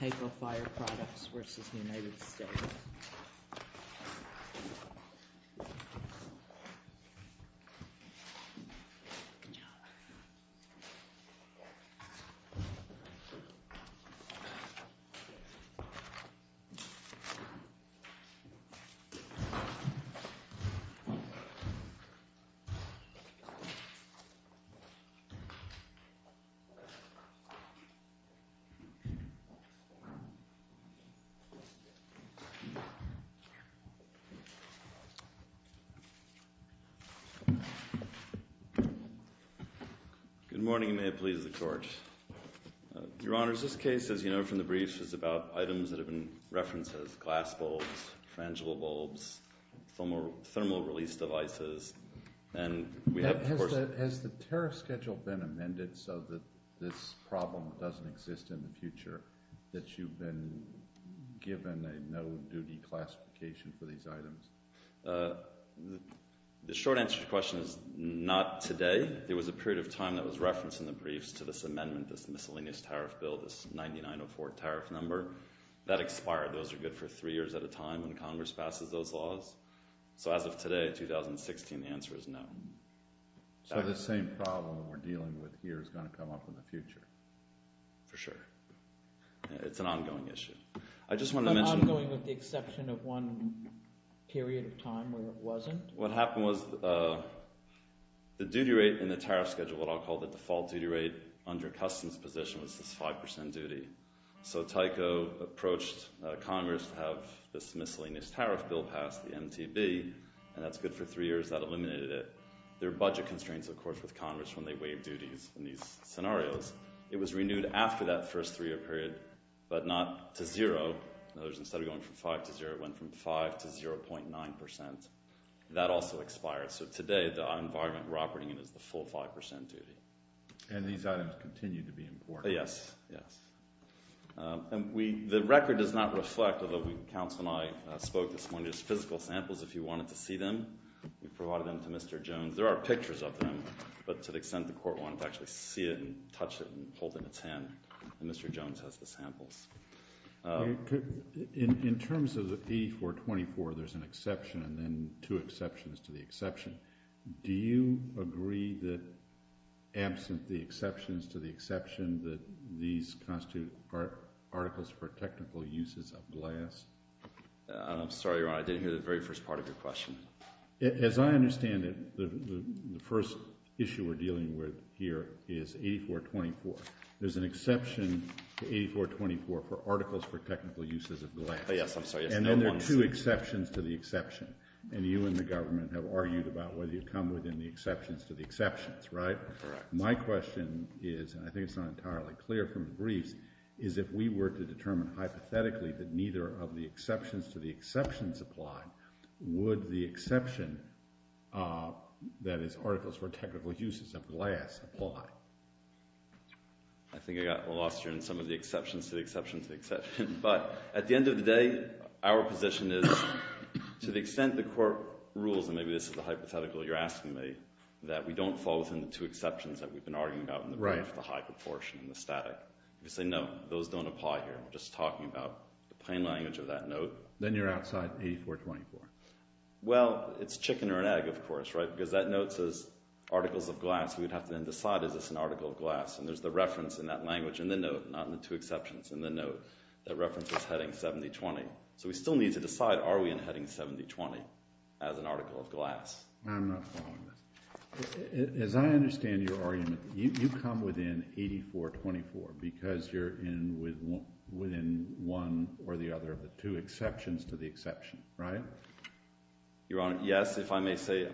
Taco Fire Products versus the United States. Good morning, and may it please the Court. Your Honors, this case, as you know from the briefs, is about items that have been referenced as glass bulbs, frangible bulbs, thermal release devices, and we have, of course— Has the tariff schedule been amended so that this problem doesn't exist in the future, that you've been given a no-duty classification for these items? The short answer to your question is, not today. There was a period of time that was referenced in the briefs to this amendment, this miscellaneous tariff bill, this 9904 tariff number. That expired. Those are good for three years at a time when Congress passes those laws. So as of today, 2016, the answer is no. So the same problem we're dealing with here is going to come up in the future? For sure. It's an ongoing issue. I just wanted to mention— But ongoing with the exception of one period of time where it wasn't? What happened was the duty rate in the tariff schedule, what I'll call the default duty rate under customs position, was this 5% duty. So Taco approached Congress to have this miscellaneous tariff bill passed, the MTB, and that's good for three years. That eliminated it. There are budget constraints, of course, with Congress when they waive duties in these scenarios. It was renewed after that first three-year period, but not to zero. In other words, instead of going from five to zero, it went from five to 0.9%. That also expired. So today, the environment we're operating in is the full 5% duty. And these items continue to be important? Yes. Yes. And the record does not reflect, although Council and I spoke this morning, just physical samples. If you wanted to see them, we provided them to Mr. Jones. There are pictures of them, but to the extent the Court wanted to actually see it and touch it and hold it in its hand, and Mr. Jones has the samples. In terms of the E-424, there's an exception and then two exceptions to the exception. Do you agree that, absent the exceptions to the exception, that these constitute Articles I'm sorry, Your Honor. I didn't hear the very first part of your question. As I understand it, the first issue we're dealing with here is E-424. There's an exception to E-424 for Articles for Technical Uses of the Land. Oh, yes. I'm sorry. And there are two exceptions to the exception. And you and the government have argued about whether you come within the exceptions to the exceptions, right? Correct. My question is, and I think it's not entirely clear from the briefs, is if we were to determine hypothetically that neither of the exceptions to the exceptions apply, would the exception, that is, Articles for Technical Uses of Glass, apply? I think I got lost here in some of the exceptions to the exceptions to the exceptions. But at the end of the day, our position is, to the extent the Court rules, and maybe this is a hypothetical you're asking me, that we don't fall within the two exceptions that we've been arguing about in the brief, the high proportion and the static. If you say, no, those don't apply here. We're just talking about the plain language of that note. Then you're outside E-424. Well, it's chicken or an egg, of course, right? Because that note says Articles of Glass. We would have to then decide, is this an Article of Glass? And there's the reference in that language in the note, not in the two exceptions in the note, that references Heading 7020. So we still need to decide, are we in Heading 7020 as an Article of Glass? I'm not following this. As I understand your argument, you come within 8424 because you're within one or the other of the two exceptions to the exception, right? Your Honor, yes. If I may say,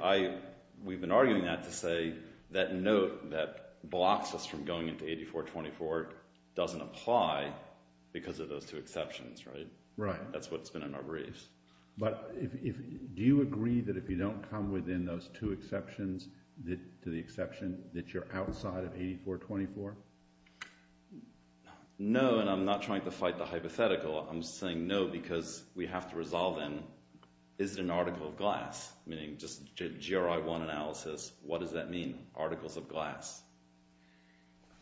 we've been arguing that to say that note that blocks us from going into 8424 doesn't apply because of those two exceptions, right? That's what's been in our briefs. Do you agree that if you don't come within those two exceptions to the exception, that you're outside of 8424? No, and I'm not trying to fight the hypothetical. I'm saying no because we have to resolve then, is it an Article of Glass? Meaning, just GRI-1 analysis, what does that mean, Articles of Glass?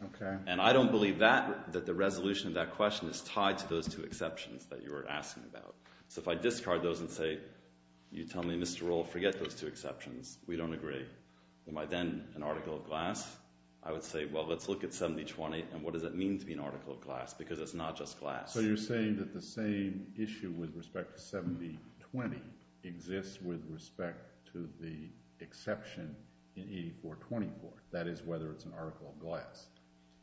Okay. And I don't believe that, that the resolution of that question is tied to those two exceptions that you were asking about. So if I discard those and say, you tell me, Mr. Rohl, forget those two exceptions. We don't agree. Am I then an Article of Glass? I would say, well, let's look at 7020 and what does it mean to be an Article of Glass? Because it's not just glass. So you're saying that the same issue with respect to 7020 exists with respect to the exception in 8424, that is, whether it's an Article of Glass.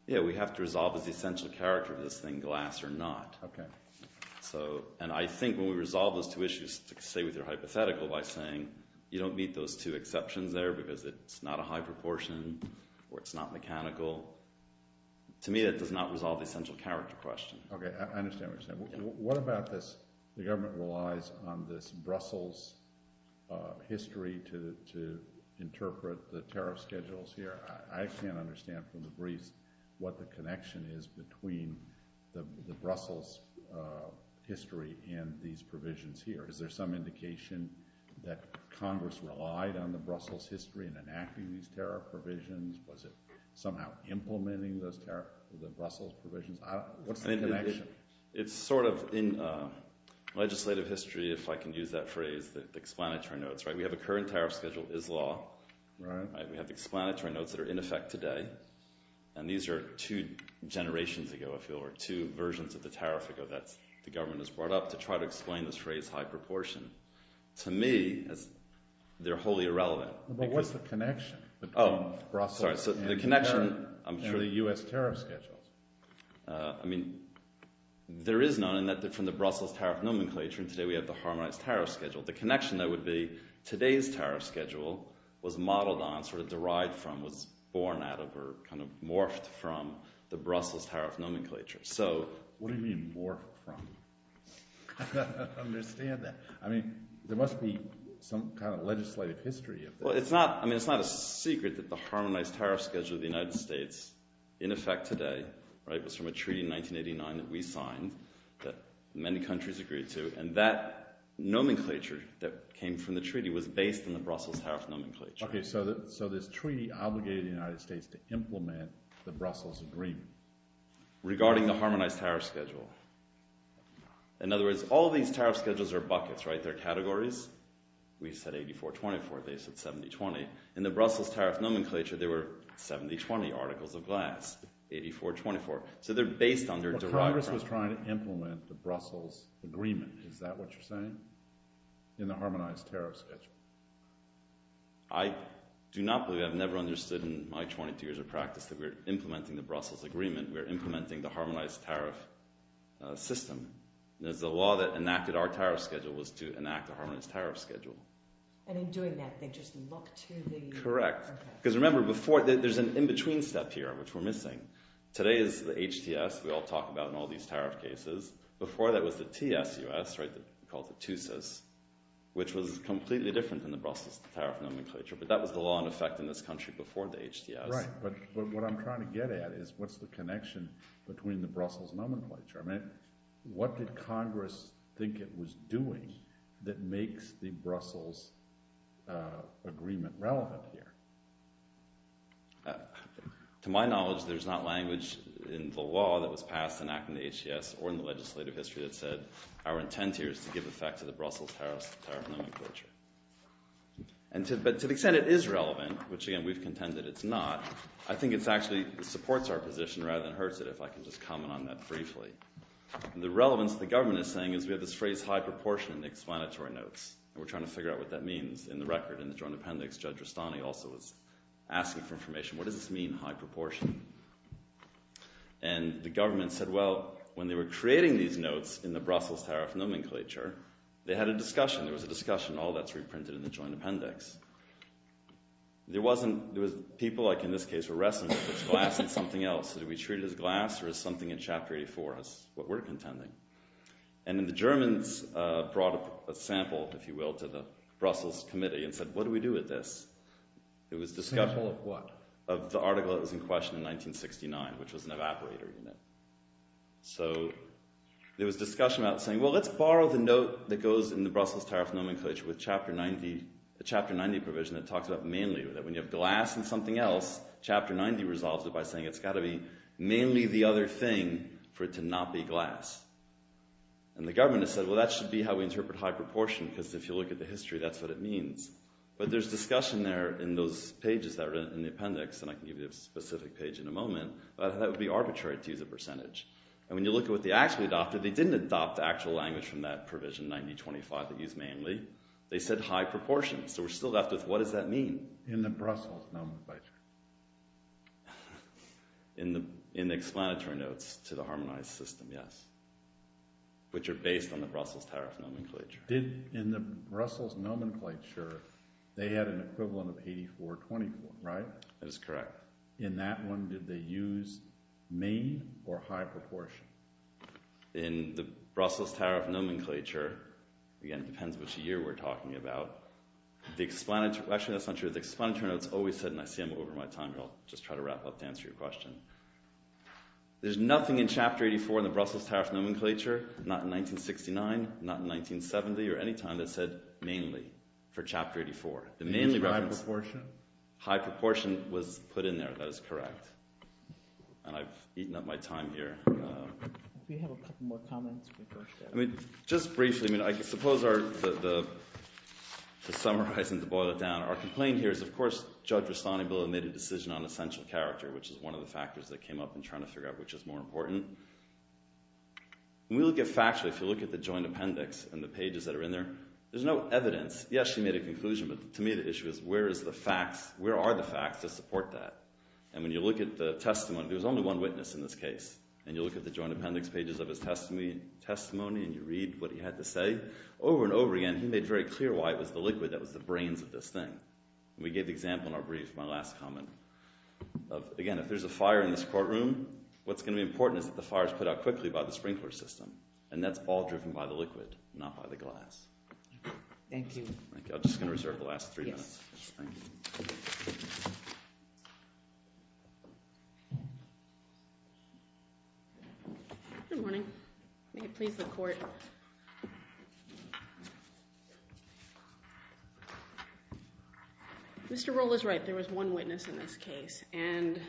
Yeah, we have to resolve as the essential character of this thing, glass or not. Okay. So, and I think when we resolve those two issues to stay with your hypothetical by saying you don't meet those two exceptions there because it's not a high proportion or it's not mechanical, to me that does not resolve the essential character question. Okay, I understand what you're saying. What about this, the government relies on this Brussels history to interpret the tariff schedules here. I can't understand from the briefs what the connection is between the Brussels history and these provisions here. Is there some indication that Congress relied on the Brussels history in enacting these tariff provisions? Was it somehow implementing those Brussels provisions? What's the connection? It's sort of in legislative history, if I can use that phrase, the explanatory notes, right? We have a current tariff schedule is law. Right. We have explanatory notes that are in effect today. And these are two generations ago, I feel, or two versions of the tariff ago that the government has brought up to try to explain this phrase high proportion. To me, they're wholly irrelevant. But what's the connection between Brussels and the U.S. tariff schedules? I mean, there is none in that from the Brussels tariff nomenclature and today we have the harmonized tariff schedule. The connection, though, would be today's tariff schedule was modeled on, sort of derived from, was born out of or kind of morphed from the Brussels tariff nomenclature. What do you mean morphed from? I don't understand that. I mean, there must be some kind of legislative history. Well, it's not a secret that the harmonized tariff schedule of the United States in effect today was from a treaty in 1989 that we signed that many countries agreed to. And that nomenclature that came from the treaty was based on the Brussels tariff nomenclature. Okay, so this treaty obligated the United States to implement the Brussels agreement. Regarding the harmonized tariff schedule. In other words, all these tariff schedules are buckets, right? They're categories. We said 84-24, they said 70-20. In the Brussels tariff nomenclature, there were 70-20 articles of glass. 84-24. So they're based on their derived... Congress was trying to implement the Brussels agreement. Is that what you're saying? In the harmonized tariff schedule. I do not believe, I've never understood in my 22 years of practice that we're implementing the Brussels agreement. We're implementing the harmonized tariff system. There's a law that enacted our tariff schedule was to enact a harmonized tariff schedule. And in doing that, they just look to the... Correct. Because remember before, there's an in-between step here, which we're missing. Today is the HTS, we all talk about in all these tariff cases. Before, that was the TSUS, right? Called the TSUS, which was completely different than the Brussels tariff nomenclature. But that was the law in effect in this country before the HTS. Right. But what I'm trying to get at is, what's the connection between the Brussels nomenclature? I mean, what did Congress think it was doing that makes the Brussels agreement relevant here? To my knowledge, there's not language in the law that was passed enacting the HTS or in the legislative history that said our intent here is to give effect to the Brussels tariff nomenclature. But to the extent it is relevant, which again, we've contended it's not, I think it actually supports our position rather than hurts it, if I can just comment on that briefly. The relevance the government is saying is we have this phrase high proportion in the explanatory notes. And we're trying to figure out what that means. In the record in the joint appendix, Judge Rustani also was asking for information. What does this mean, high proportion? And the government said, well, when they were creating these notes in the Brussels tariff nomenclature, they had a discussion. There was a discussion. All that's reprinted in the joint appendix. There was people, like in this case, were wrestling with if it's glass, it's something else. Do we treat it as glass or is something in Chapter 84 what we're contending? And then the Germans brought a sample, if you will, to the Brussels committee and said, what do we do with this? It was discussed. Sample of what? Of the article that was in question in 1969, which was an evaporator unit. So there was discussion about saying, well, let's borrow the note that goes in the Brussels tariff nomenclature with Chapter 90, the Chapter 90 provision that talks about mainly, that when you have glass and something else, Chapter 90 resolves it by saying it's got to be mainly the other thing for it to not be glass. And the government said, well, that should be how we interpret high proportion because if you look at the history, that's what it means. But there's discussion there in those pages that are in the appendix, and I can give you a specific page in a moment, but that would be arbitrary to use a percentage. And when you look at what they actually adopted, they didn't adopt the actual language from that provision 90-25 that used mainly. They said high proportion. So we're still left with what does that mean? In the Brussels nomenclature. In the explanatory notes to the harmonized system, yes. Which are based on the Brussels tariff nomenclature. In the Brussels nomenclature, they had an equivalent of 84-24, right? That is correct. In that one, did they use main or high proportion? In the Brussels tariff nomenclature, again, depends which year we're talking about, the explanatory notes always said, and I see I'm over my time here, I'll just try to wrap up to answer your question. There's nothing in Chapter 84 in the Brussels tariff nomenclature, not in 1969, not in 1970, or any time that said mainly for Chapter 84. The mainly reference... High proportion? High proportion was put in there, that is correct. And I've eaten up my time here. We have a couple more comments before... I mean, just briefly, I suppose our... To summarize and to boil it down, our complaint here is, of course, Judge Rastani will have made a decision on essential character, which is one of the factors that came up in trying to figure out which is more important. When we look at facts, if you look at the joint appendix and the pages that are in there, there's no evidence. Yes, he made a conclusion, but to me the issue is, where are the facts to support that? And when you look at the testimony, there's only one witness in this case, and you look at the joint appendix pages of his testimony, and you read what he had to say, over and over again, he made very clear why it was the liquid that was the brains of this thing. We gave the example in our brief, my last comment. Again, if there's a fire in this courtroom, what's going to be important is that the fire is put out quickly by the sprinkler system, and that's all driven by the liquid, not by the glass. Thank you. I'm just going to reserve the last three minutes. Good morning. May it please the Court. Mr. Rule is right. There was one witness in this case, and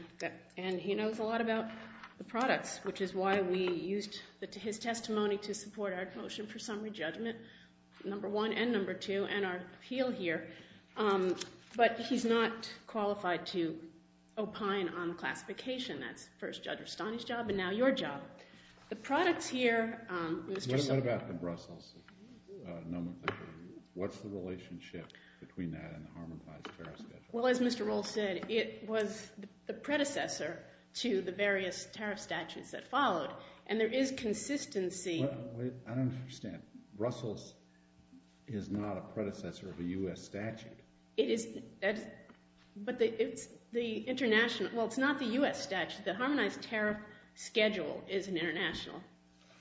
he knows a lot about the products, which is why we used his testimony to support our motion for summary judgment, number one and number two, and our appeal here. But he's not qualified to opine on classification. That's first Judge Rastani's job, and now your job. The products here, Mr. Stone. What about the Brussels? What's the relationship between that and the Harmonized Tariff Schedule? Well, as Mr. Rule said, it was the predecessor to the various tariff statutes that followed, and there is consistency. I don't understand. Brussels is not a predecessor of a U.S. statute. It is, but it's the international. Well, it's not the U.S. statute. The Harmonized Tariff Schedule is an international.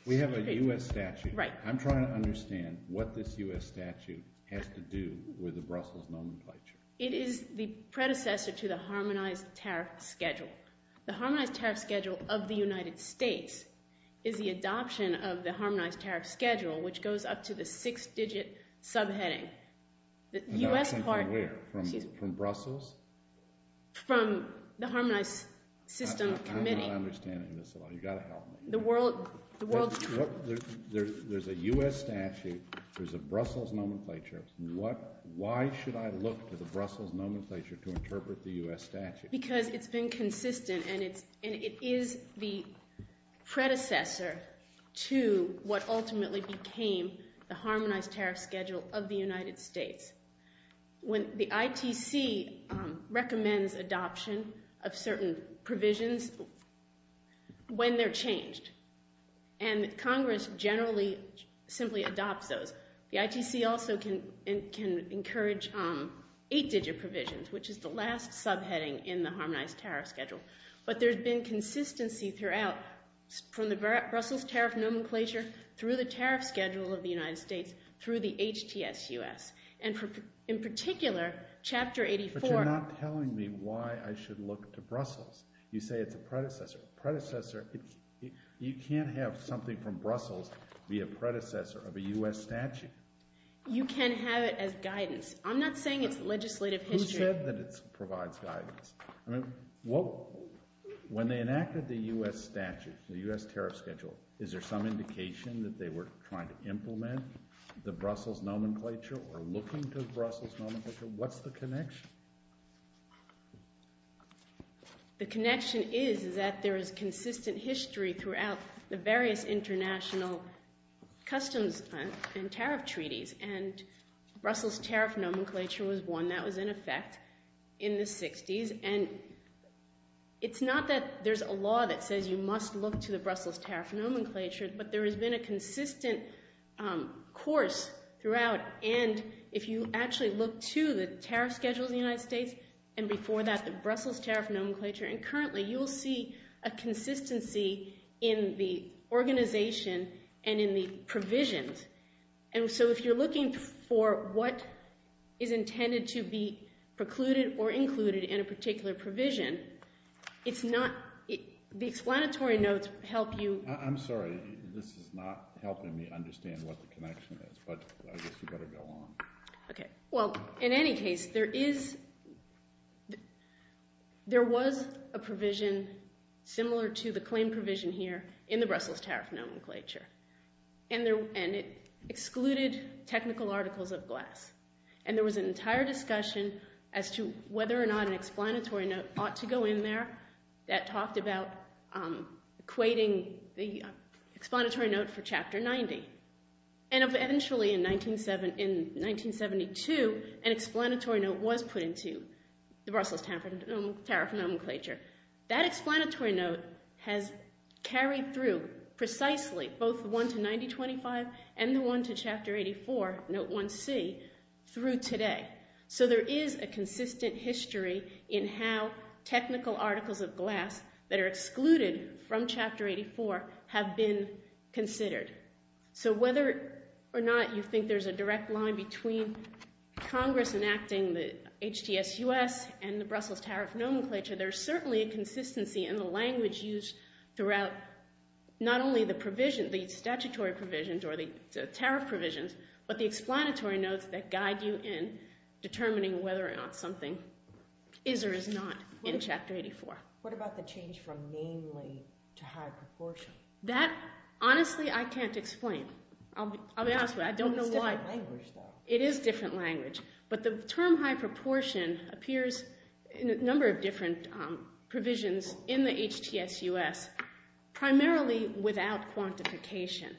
We have a U.S. statute. Right. I'm trying to understand what this U.S. statute has to do with the Brussels nomenclature. It is the predecessor to the Harmonized Tariff Schedule. The Harmonized Tariff Schedule of the United States is the adoption of the Harmonized Tariff Schedule, which goes up to the six-digit subheading. The U.S. part— From where? Excuse me. From Brussels? From the Harmonized System Committee. I'm not understanding this at all. You've got to help me. The world— There's a U.S. statute. There's a Brussels nomenclature. Why should I look to the Brussels nomenclature to interpret the U.S. statute? Because it's been consistent, and it is the predecessor to what ultimately became the Harmonized Tariff Schedule of the United States. The ITC recommends adoption of certain provisions when they're changed, and Congress generally simply adopts those. The ITC also can encourage eight-digit provisions, which is the last subheading in the Harmonized Tariff Schedule. But there's been consistency throughout, from the Brussels tariff nomenclature through the tariff schedule of the United States through the HTSUS, and in particular, Chapter 84— But you're not telling me why I should look to Brussels. You say it's a predecessor. A predecessor—you can't have something from Brussels be a predecessor of a U.S. statute. You can have it as guidance. I'm not saying it's legislative history. Who said that it provides guidance? I mean, when they enacted the U.S. statute, the U.S. tariff schedule, is there some indication that they were trying to implement the Brussels nomenclature or looking to the Brussels nomenclature? What's the connection? The connection is that there is consistent history throughout the various international customs and tariff treaties, and Brussels tariff nomenclature was one that was in effect in the 60s. And it's not that there's a law that says you must look to the Brussels tariff nomenclature, but there has been a consistent course throughout, and if you actually look to the tariff schedules of the United States and before that the Brussels tariff nomenclature, and currently you will see a consistency in the organization and in the provisions. And so if you're looking for what is intended to be precluded or included in a particular provision, it's not the explanatory notes help you. I'm sorry. This is not helping me understand what the connection is, but I guess you better go on. Okay. Well, in any case, there was a provision similar to the claim provision here in the Brussels tariff nomenclature, and it excluded technical articles of glass. And there was an entire discussion as to whether or not an explanatory note ought to go in there that talked about equating the explanatory note for Chapter 90. And eventually in 1972, an explanatory note was put into the Brussels tariff nomenclature. That explanatory note has carried through precisely both the one to 9025 and the one to Chapter 84, Note 1C, through today. So there is a consistent history in how technical articles of glass that are excluded from Chapter 84 have been considered. So whether or not you think there's a direct line between Congress enacting the HTSUS and the Brussels tariff nomenclature, there's certainly a consistency in the language used throughout not only the statutory provisions or the tariff provisions, but the explanatory notes that guide you in determining whether or not something is or is not in Chapter 84. What about the change from mainly to high proportion? That, honestly, I can't explain. I'll be honest with you. It's a different language, though. It is a different language. But the term high proportion appears in a number of different provisions in the HTSUS, primarily without quantification.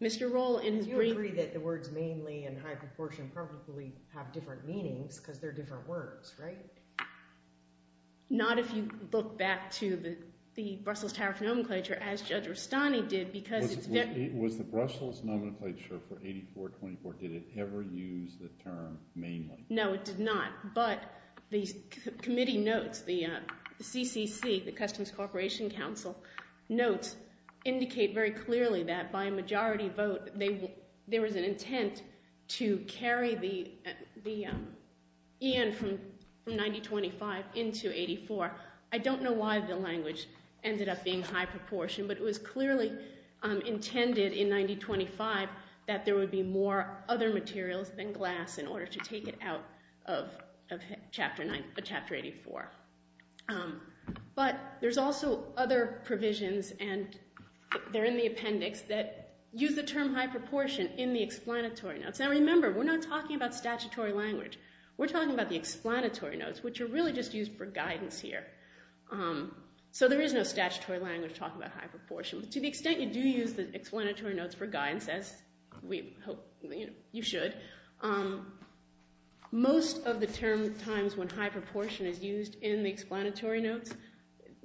Mr. Rohl in his brief… Do you agree that the words mainly and high proportion probably have different meanings because they're different words, right? Not if you look back to the Brussels tariff nomenclature, as Judge Rustani did, because it's very… Was the Brussels nomenclature for 84-24, did it ever use the term mainly? No, it did not. But the committee notes, the CCC, the Customs Corporation Council, notes indicate very clearly that by a majority vote there was an intent to carry the EN from 90-25 into 84. I don't know why the language ended up being high proportion, but it was clearly intended in 90-25 that there would be more other materials than glass in order to take it out of Chapter 84. But there's also other provisions, and they're in the appendix, that use the term high proportion in the explanatory notes. Now, remember, we're not talking about statutory language. We're talking about the explanatory notes, which are really just used for guidance here. So there is no statutory language talking about high proportion. But to the extent you do use the explanatory notes for guidance, as we hope you should, most of the times when high proportion is used in the explanatory notes,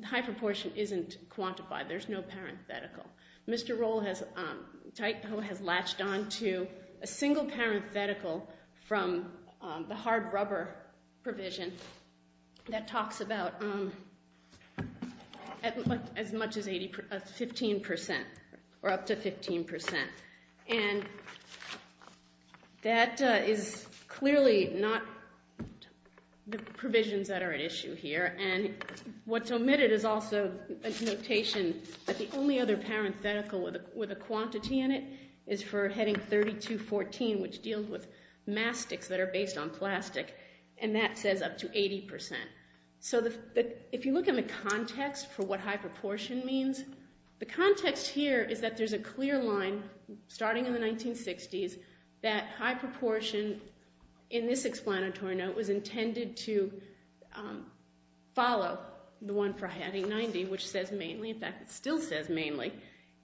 high proportion isn't quantified. There's no parenthetical. Mr. Roll has latched on to a single parenthetical from the hard rubber provision that talks about as much as 15% or up to 15%. And that is clearly not the provisions that are at issue here. And what's omitted is also a notation that the only other parenthetical with a quantity in it is for Heading 32-14, which deals with mastics that are based on plastic, and that says up to 80%. So if you look at the context for what high proportion means, the context here is that there's a clear line starting in the 1960s that high proportion in this explanatory note was intended to follow the one for Heading 90, which says mainly. In fact, it still says mainly.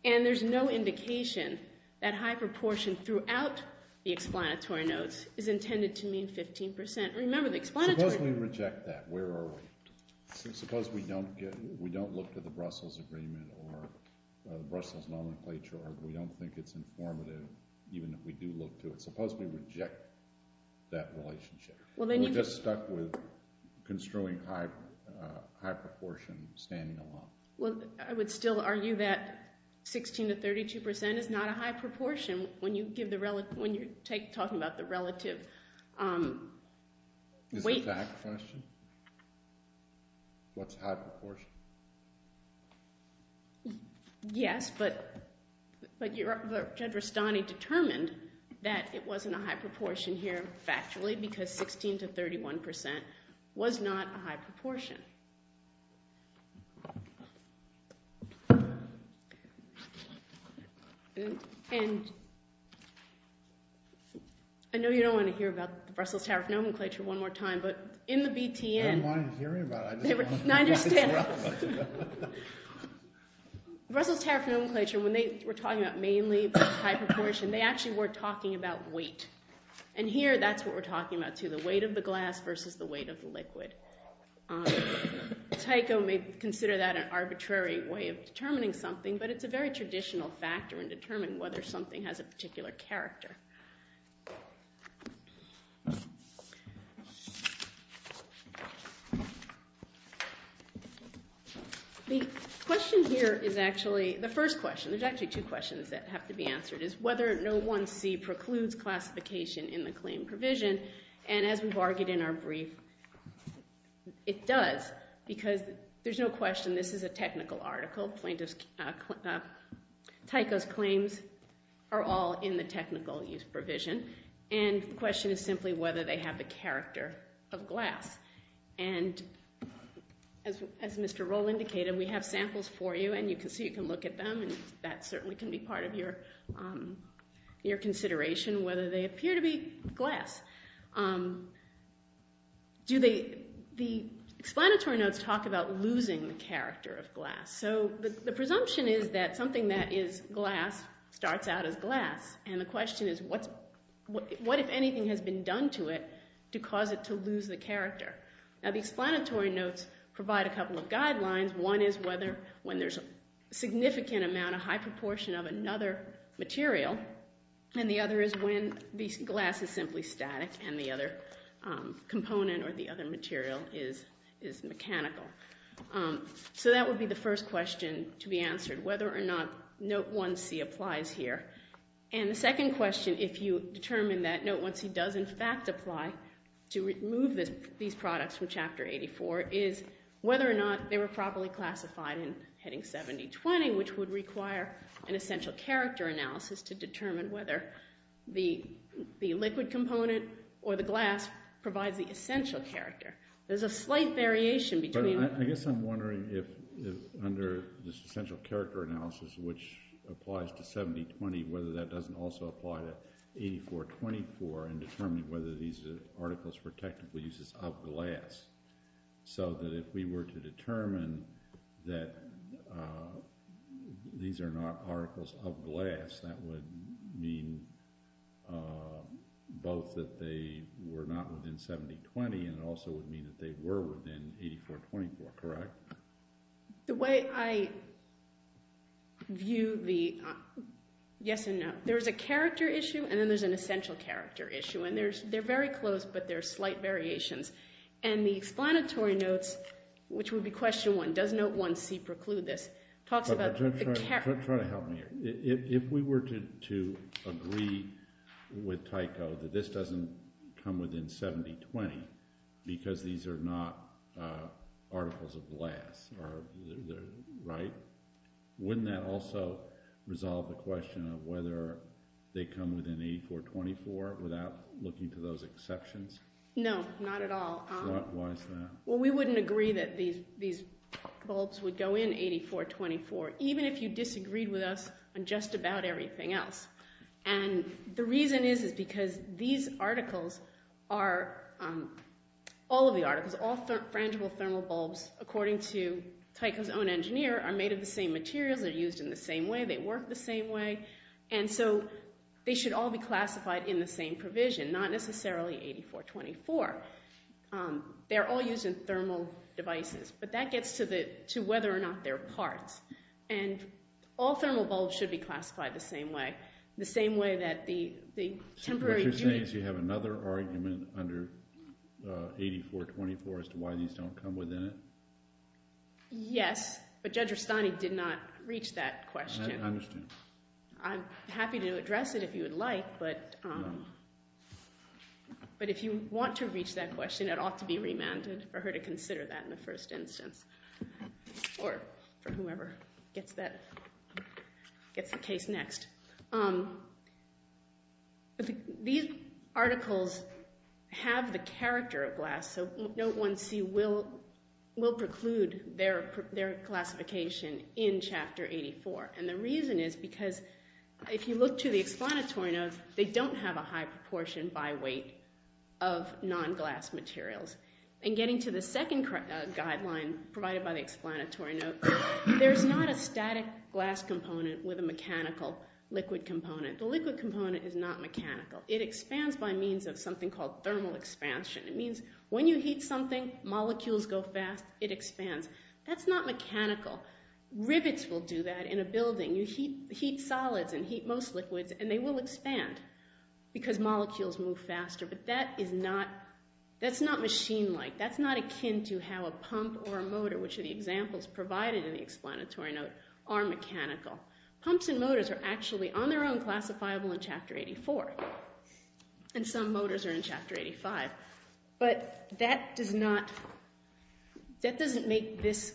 And there's no indication that high proportion throughout the explanatory notes is intended to mean 15%. Remember the explanatory notes. Suppose we reject that. Where are we? Suppose we don't look to the Brussels Agreement or the Brussels Nomenclature or we don't think it's informative even if we do look to it. Suppose we reject that relationship. We're just stuck with construing high proportion standing alone. Well, I would still argue that 16% to 32% is not a high proportion when you're talking about the relative weight. Is this a fact question? What's high proportion? Yes, but Jedrastani determined that it wasn't a high proportion here factually because 16% to 31% was not a high proportion. And I know you don't want to hear about the Brussels Tariff Nomenclature one more time, but in the BTN— I didn't want to hear about it. I just wanted to— No, I understand. Brussels Tariff Nomenclature, when they were talking about mainly high proportion, they actually were talking about weight. And here that's what we're talking about too, the weight of the glass versus the weight of the liquid. Tyco may consider that an arbitrary way of determining something, but it's a very traditional factor in determining whether something has a particular character. The question here is actually— The first question, there's actually two questions that have to be answered, is whether No. 1C precludes classification in the claim provision. And as we've argued in our brief, it does because there's no question this is a technical article. Tyco's claims are all in the technical use provision. And the question is simply whether they have the character of glass. And as Mr. Roll indicated, we have samples for you, and you can see you can look at them, and that certainly can be part of your consideration, whether they appear to be glass. The explanatory notes talk about losing the character of glass. So the presumption is that something that is glass starts out as glass, and the question is what, if anything, has been done to it to cause it to lose the character? Now, the explanatory notes provide a couple of guidelines. One is when there's a significant amount, a high proportion of another material, and the other is when the glass is simply static and the other component or the other material is mechanical. So that would be the first question to be answered, whether or not No. 1C applies here. And the second question, if you determine that No. 1C does in fact apply to remove these products from Chapter 84, is whether or not they were properly classified in Heading 7020, which would require an essential character analysis to determine whether the liquid component or the glass provides the essential character. There's a slight variation between the two. But I guess I'm wondering if under this essential character analysis, which applies to 7020, whether that doesn't also apply to 8424 in determining whether these articles were technically uses of glass, so that if we were to determine that these are not articles of glass, that would mean both that they were not within 7020 and it also would mean that they were within 8424, correct? The way I view the yes and no, there's a character issue and then there's an essential character issue. And they're very close, but there are slight variations. And the explanatory notes, which would be question one, does No. 1C preclude this, talks about the character. Try to help me here. If we were to agree with Tyco that this doesn't come within 7020 because these are not articles of glass, right? Wouldn't that also resolve the question of whether they come within 8424 without looking to those exceptions? No, not at all. Why is that? Well, we wouldn't agree that these bulbs would go in 8424, even if you disagreed with us on just about everything else. And the reason is, is because these articles are – all of the articles, all frangible thermal bulbs, according to Tyco's own engineer, are made of the same materials, are used in the same way, they work the same way. And so they should all be classified in the same provision, not necessarily 8424. They're all used in thermal devices, but that gets to whether or not they're parts. And all thermal bulbs should be classified the same way, the same way that the temporary – So what you're saying is you have another argument under 8424 as to why these don't come within it? Yes, but Judge Rustani did not reach that question. I understand. I'm happy to address it if you would like, but if you want to reach that question, it ought to be remanded for her to consider that in the first instance, or for whomever gets that – gets the case next. These articles have the character of glass, so Note 1C will preclude their classification in Chapter 84. And the reason is because if you look to the explanatory notes, they don't have a high proportion by weight of non-glass materials. And getting to the second guideline provided by the explanatory notes, there's not a static glass component with a mechanical liquid component. The liquid component is not mechanical. It expands by means of something called thermal expansion. It means when you heat something, molecules go fast, it expands. That's not mechanical. Rivets will do that in a building. You heat solids and heat most liquids, and they will expand because molecules move faster. But that is not – that's not machine-like. That's not akin to how a pump or a motor, which are the examples provided in the explanatory note, are mechanical. Pumps and motors are actually on their own classifiable in Chapter 84, and some motors are in Chapter 85. But that does not – that doesn't make this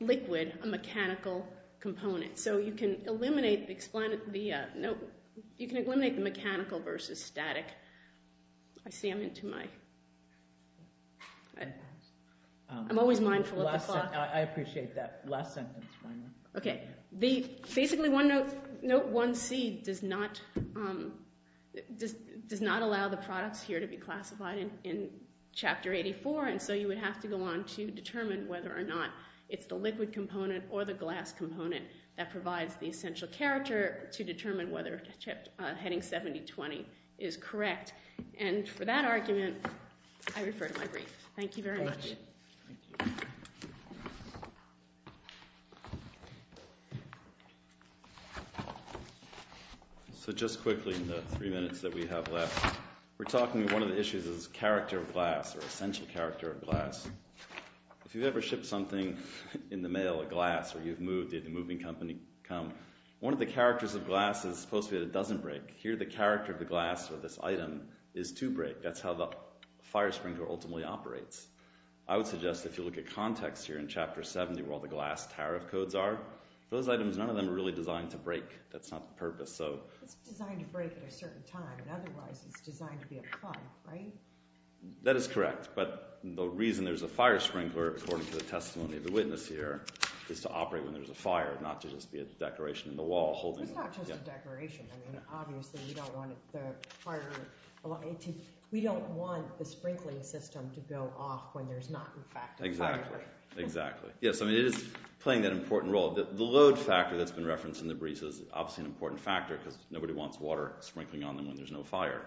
liquid a mechanical component. So you can eliminate the – you can eliminate the mechanical versus static. I see I'm into my – I'm always mindful of the clock. I appreciate that. Last sentence, finally. Okay. Basically, Note 1C does not allow the products here to be classified in Chapter 84, and so you would have to go on to determine whether or not it's the liquid component or the glass component that provides the essential character to determine whether heading 7020 is correct. And for that argument, I refer to my brief. Thank you very much. Thank you. So just quickly, in the three minutes that we have left, we're talking – one of the issues is character of glass or essential character of glass. If you've ever shipped something in the mail, a glass, or you've moved, did the moving company come, one of the characters of glass is supposed to be that it doesn't break. Here, the character of the glass or this item is to break. That's how the fire sprinkler ultimately operates. I would suggest if you look at context here in Chapter 70 where all the glass tariff codes are, those items, none of them are really designed to break. That's not the purpose. It's designed to break at a certain time, and otherwise it's designed to be applied, right? That is correct. But the reason there's a fire sprinkler, according to the testimony of the witness here, is to operate when there's a fire, not to just be a decoration in the wall holding it. It's not just a decoration. Obviously, we don't want the sprinkling system to go off when there's not, in fact, a fire. Exactly. Yes, it is playing that important role. The load factor that's been referenced in the briefs is obviously an important factor because nobody wants water sprinkling on them when there's no fire.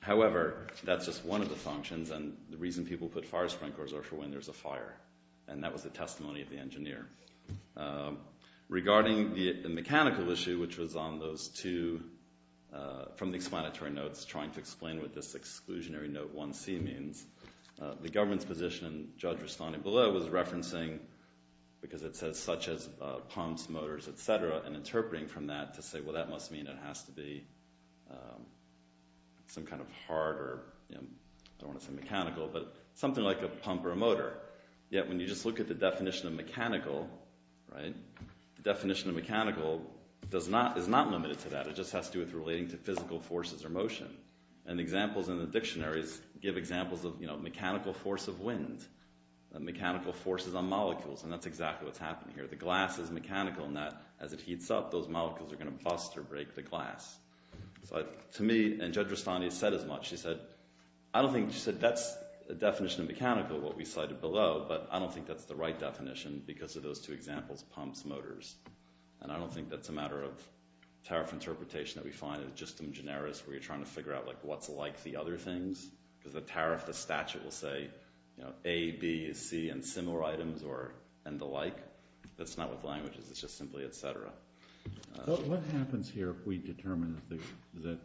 However, that's just one of the functions, and the reason people put fire sprinklers are for when there's a fire, and that was the testimony of the engineer. Regarding the mechanical issue, which was on those two, from the explanatory notes, trying to explain what this exclusionary note 1C means, the government's position, Judge Rastani below, was referencing, because it says such as pumps, motors, et cetera, and interpreting from that to say, well, that must mean it has to be some kind of harder, I don't want to say mechanical, but something like a pump or a motor. Yet when you just look at the definition of mechanical, the definition of mechanical is not limited to that. It just has to do with relating to physical forces or motion. Examples in the dictionaries give examples of mechanical force of wind, mechanical forces on molecules, and that's exactly what's happening here. The glass is mechanical in that as it heats up, those molecules are going to bust or break the glass. To me, and Judge Rastani has said as much, she said, that's a definition of mechanical, what we cited below, but I don't think that's the right definition because of those two examples, pumps, motors, and I don't think that's a matter of tariff interpretation that we find, it's just some generis where you're trying to figure out what's like the other things, because the tariff, the statute will say A, B, C, and similar items and the like. That's not with languages, it's just simply et cetera. What happens here if we determine that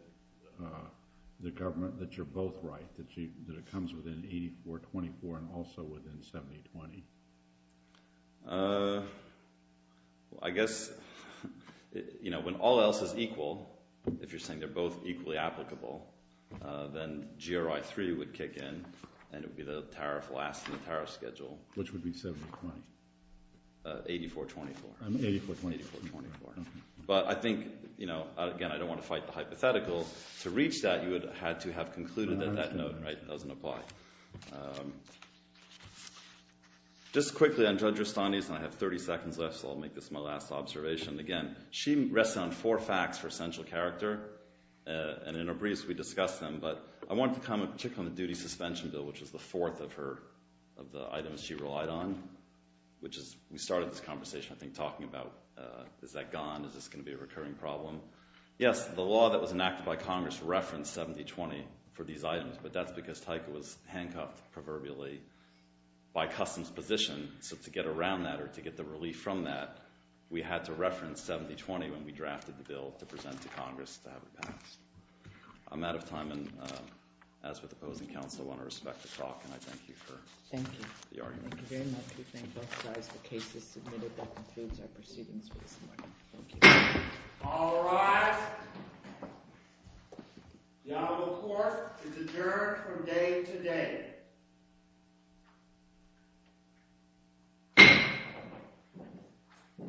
the government, that you're both right, that it comes within 84-24 and also within 70-20? I guess when all else is equal, if you're saying they're both equally applicable, then GRI-3 would kick in and it would be the tariff last in the tariff schedule. Which would be 70-20? 84-24. 84-24. But I think, again, I don't want to fight the hypothetical. To reach that, you would have had to have concluded that that note doesn't apply. Just quickly on Judge Rastani's, and I have 30 seconds left, so I'll make this my last observation. Again, she rests on four facts for essential character, and in her briefs we discuss them, but I wanted to comment particularly on the duty suspension bill, which is the fourth of the items she relied on, which is we started this conversation, I think, talking about is that gone? Is this going to be a recurring problem? Yes, the law that was enacted by Congress referenced 70-20 for these items, but that's because Tyka was handcuffed, proverbially, by customs position, so to get around that or to get the relief from that, we had to reference 70-20 when we drafted the bill to present to Congress to have it passed. I'm out of time, and as with opposing counsel, I want to respect the clock, and I thank you for the argument. Thank you very much. We thank both sides for cases submitted. That concludes our proceedings for this morning. Thank you. All rise. The Honorable Court is adjourned from day to day.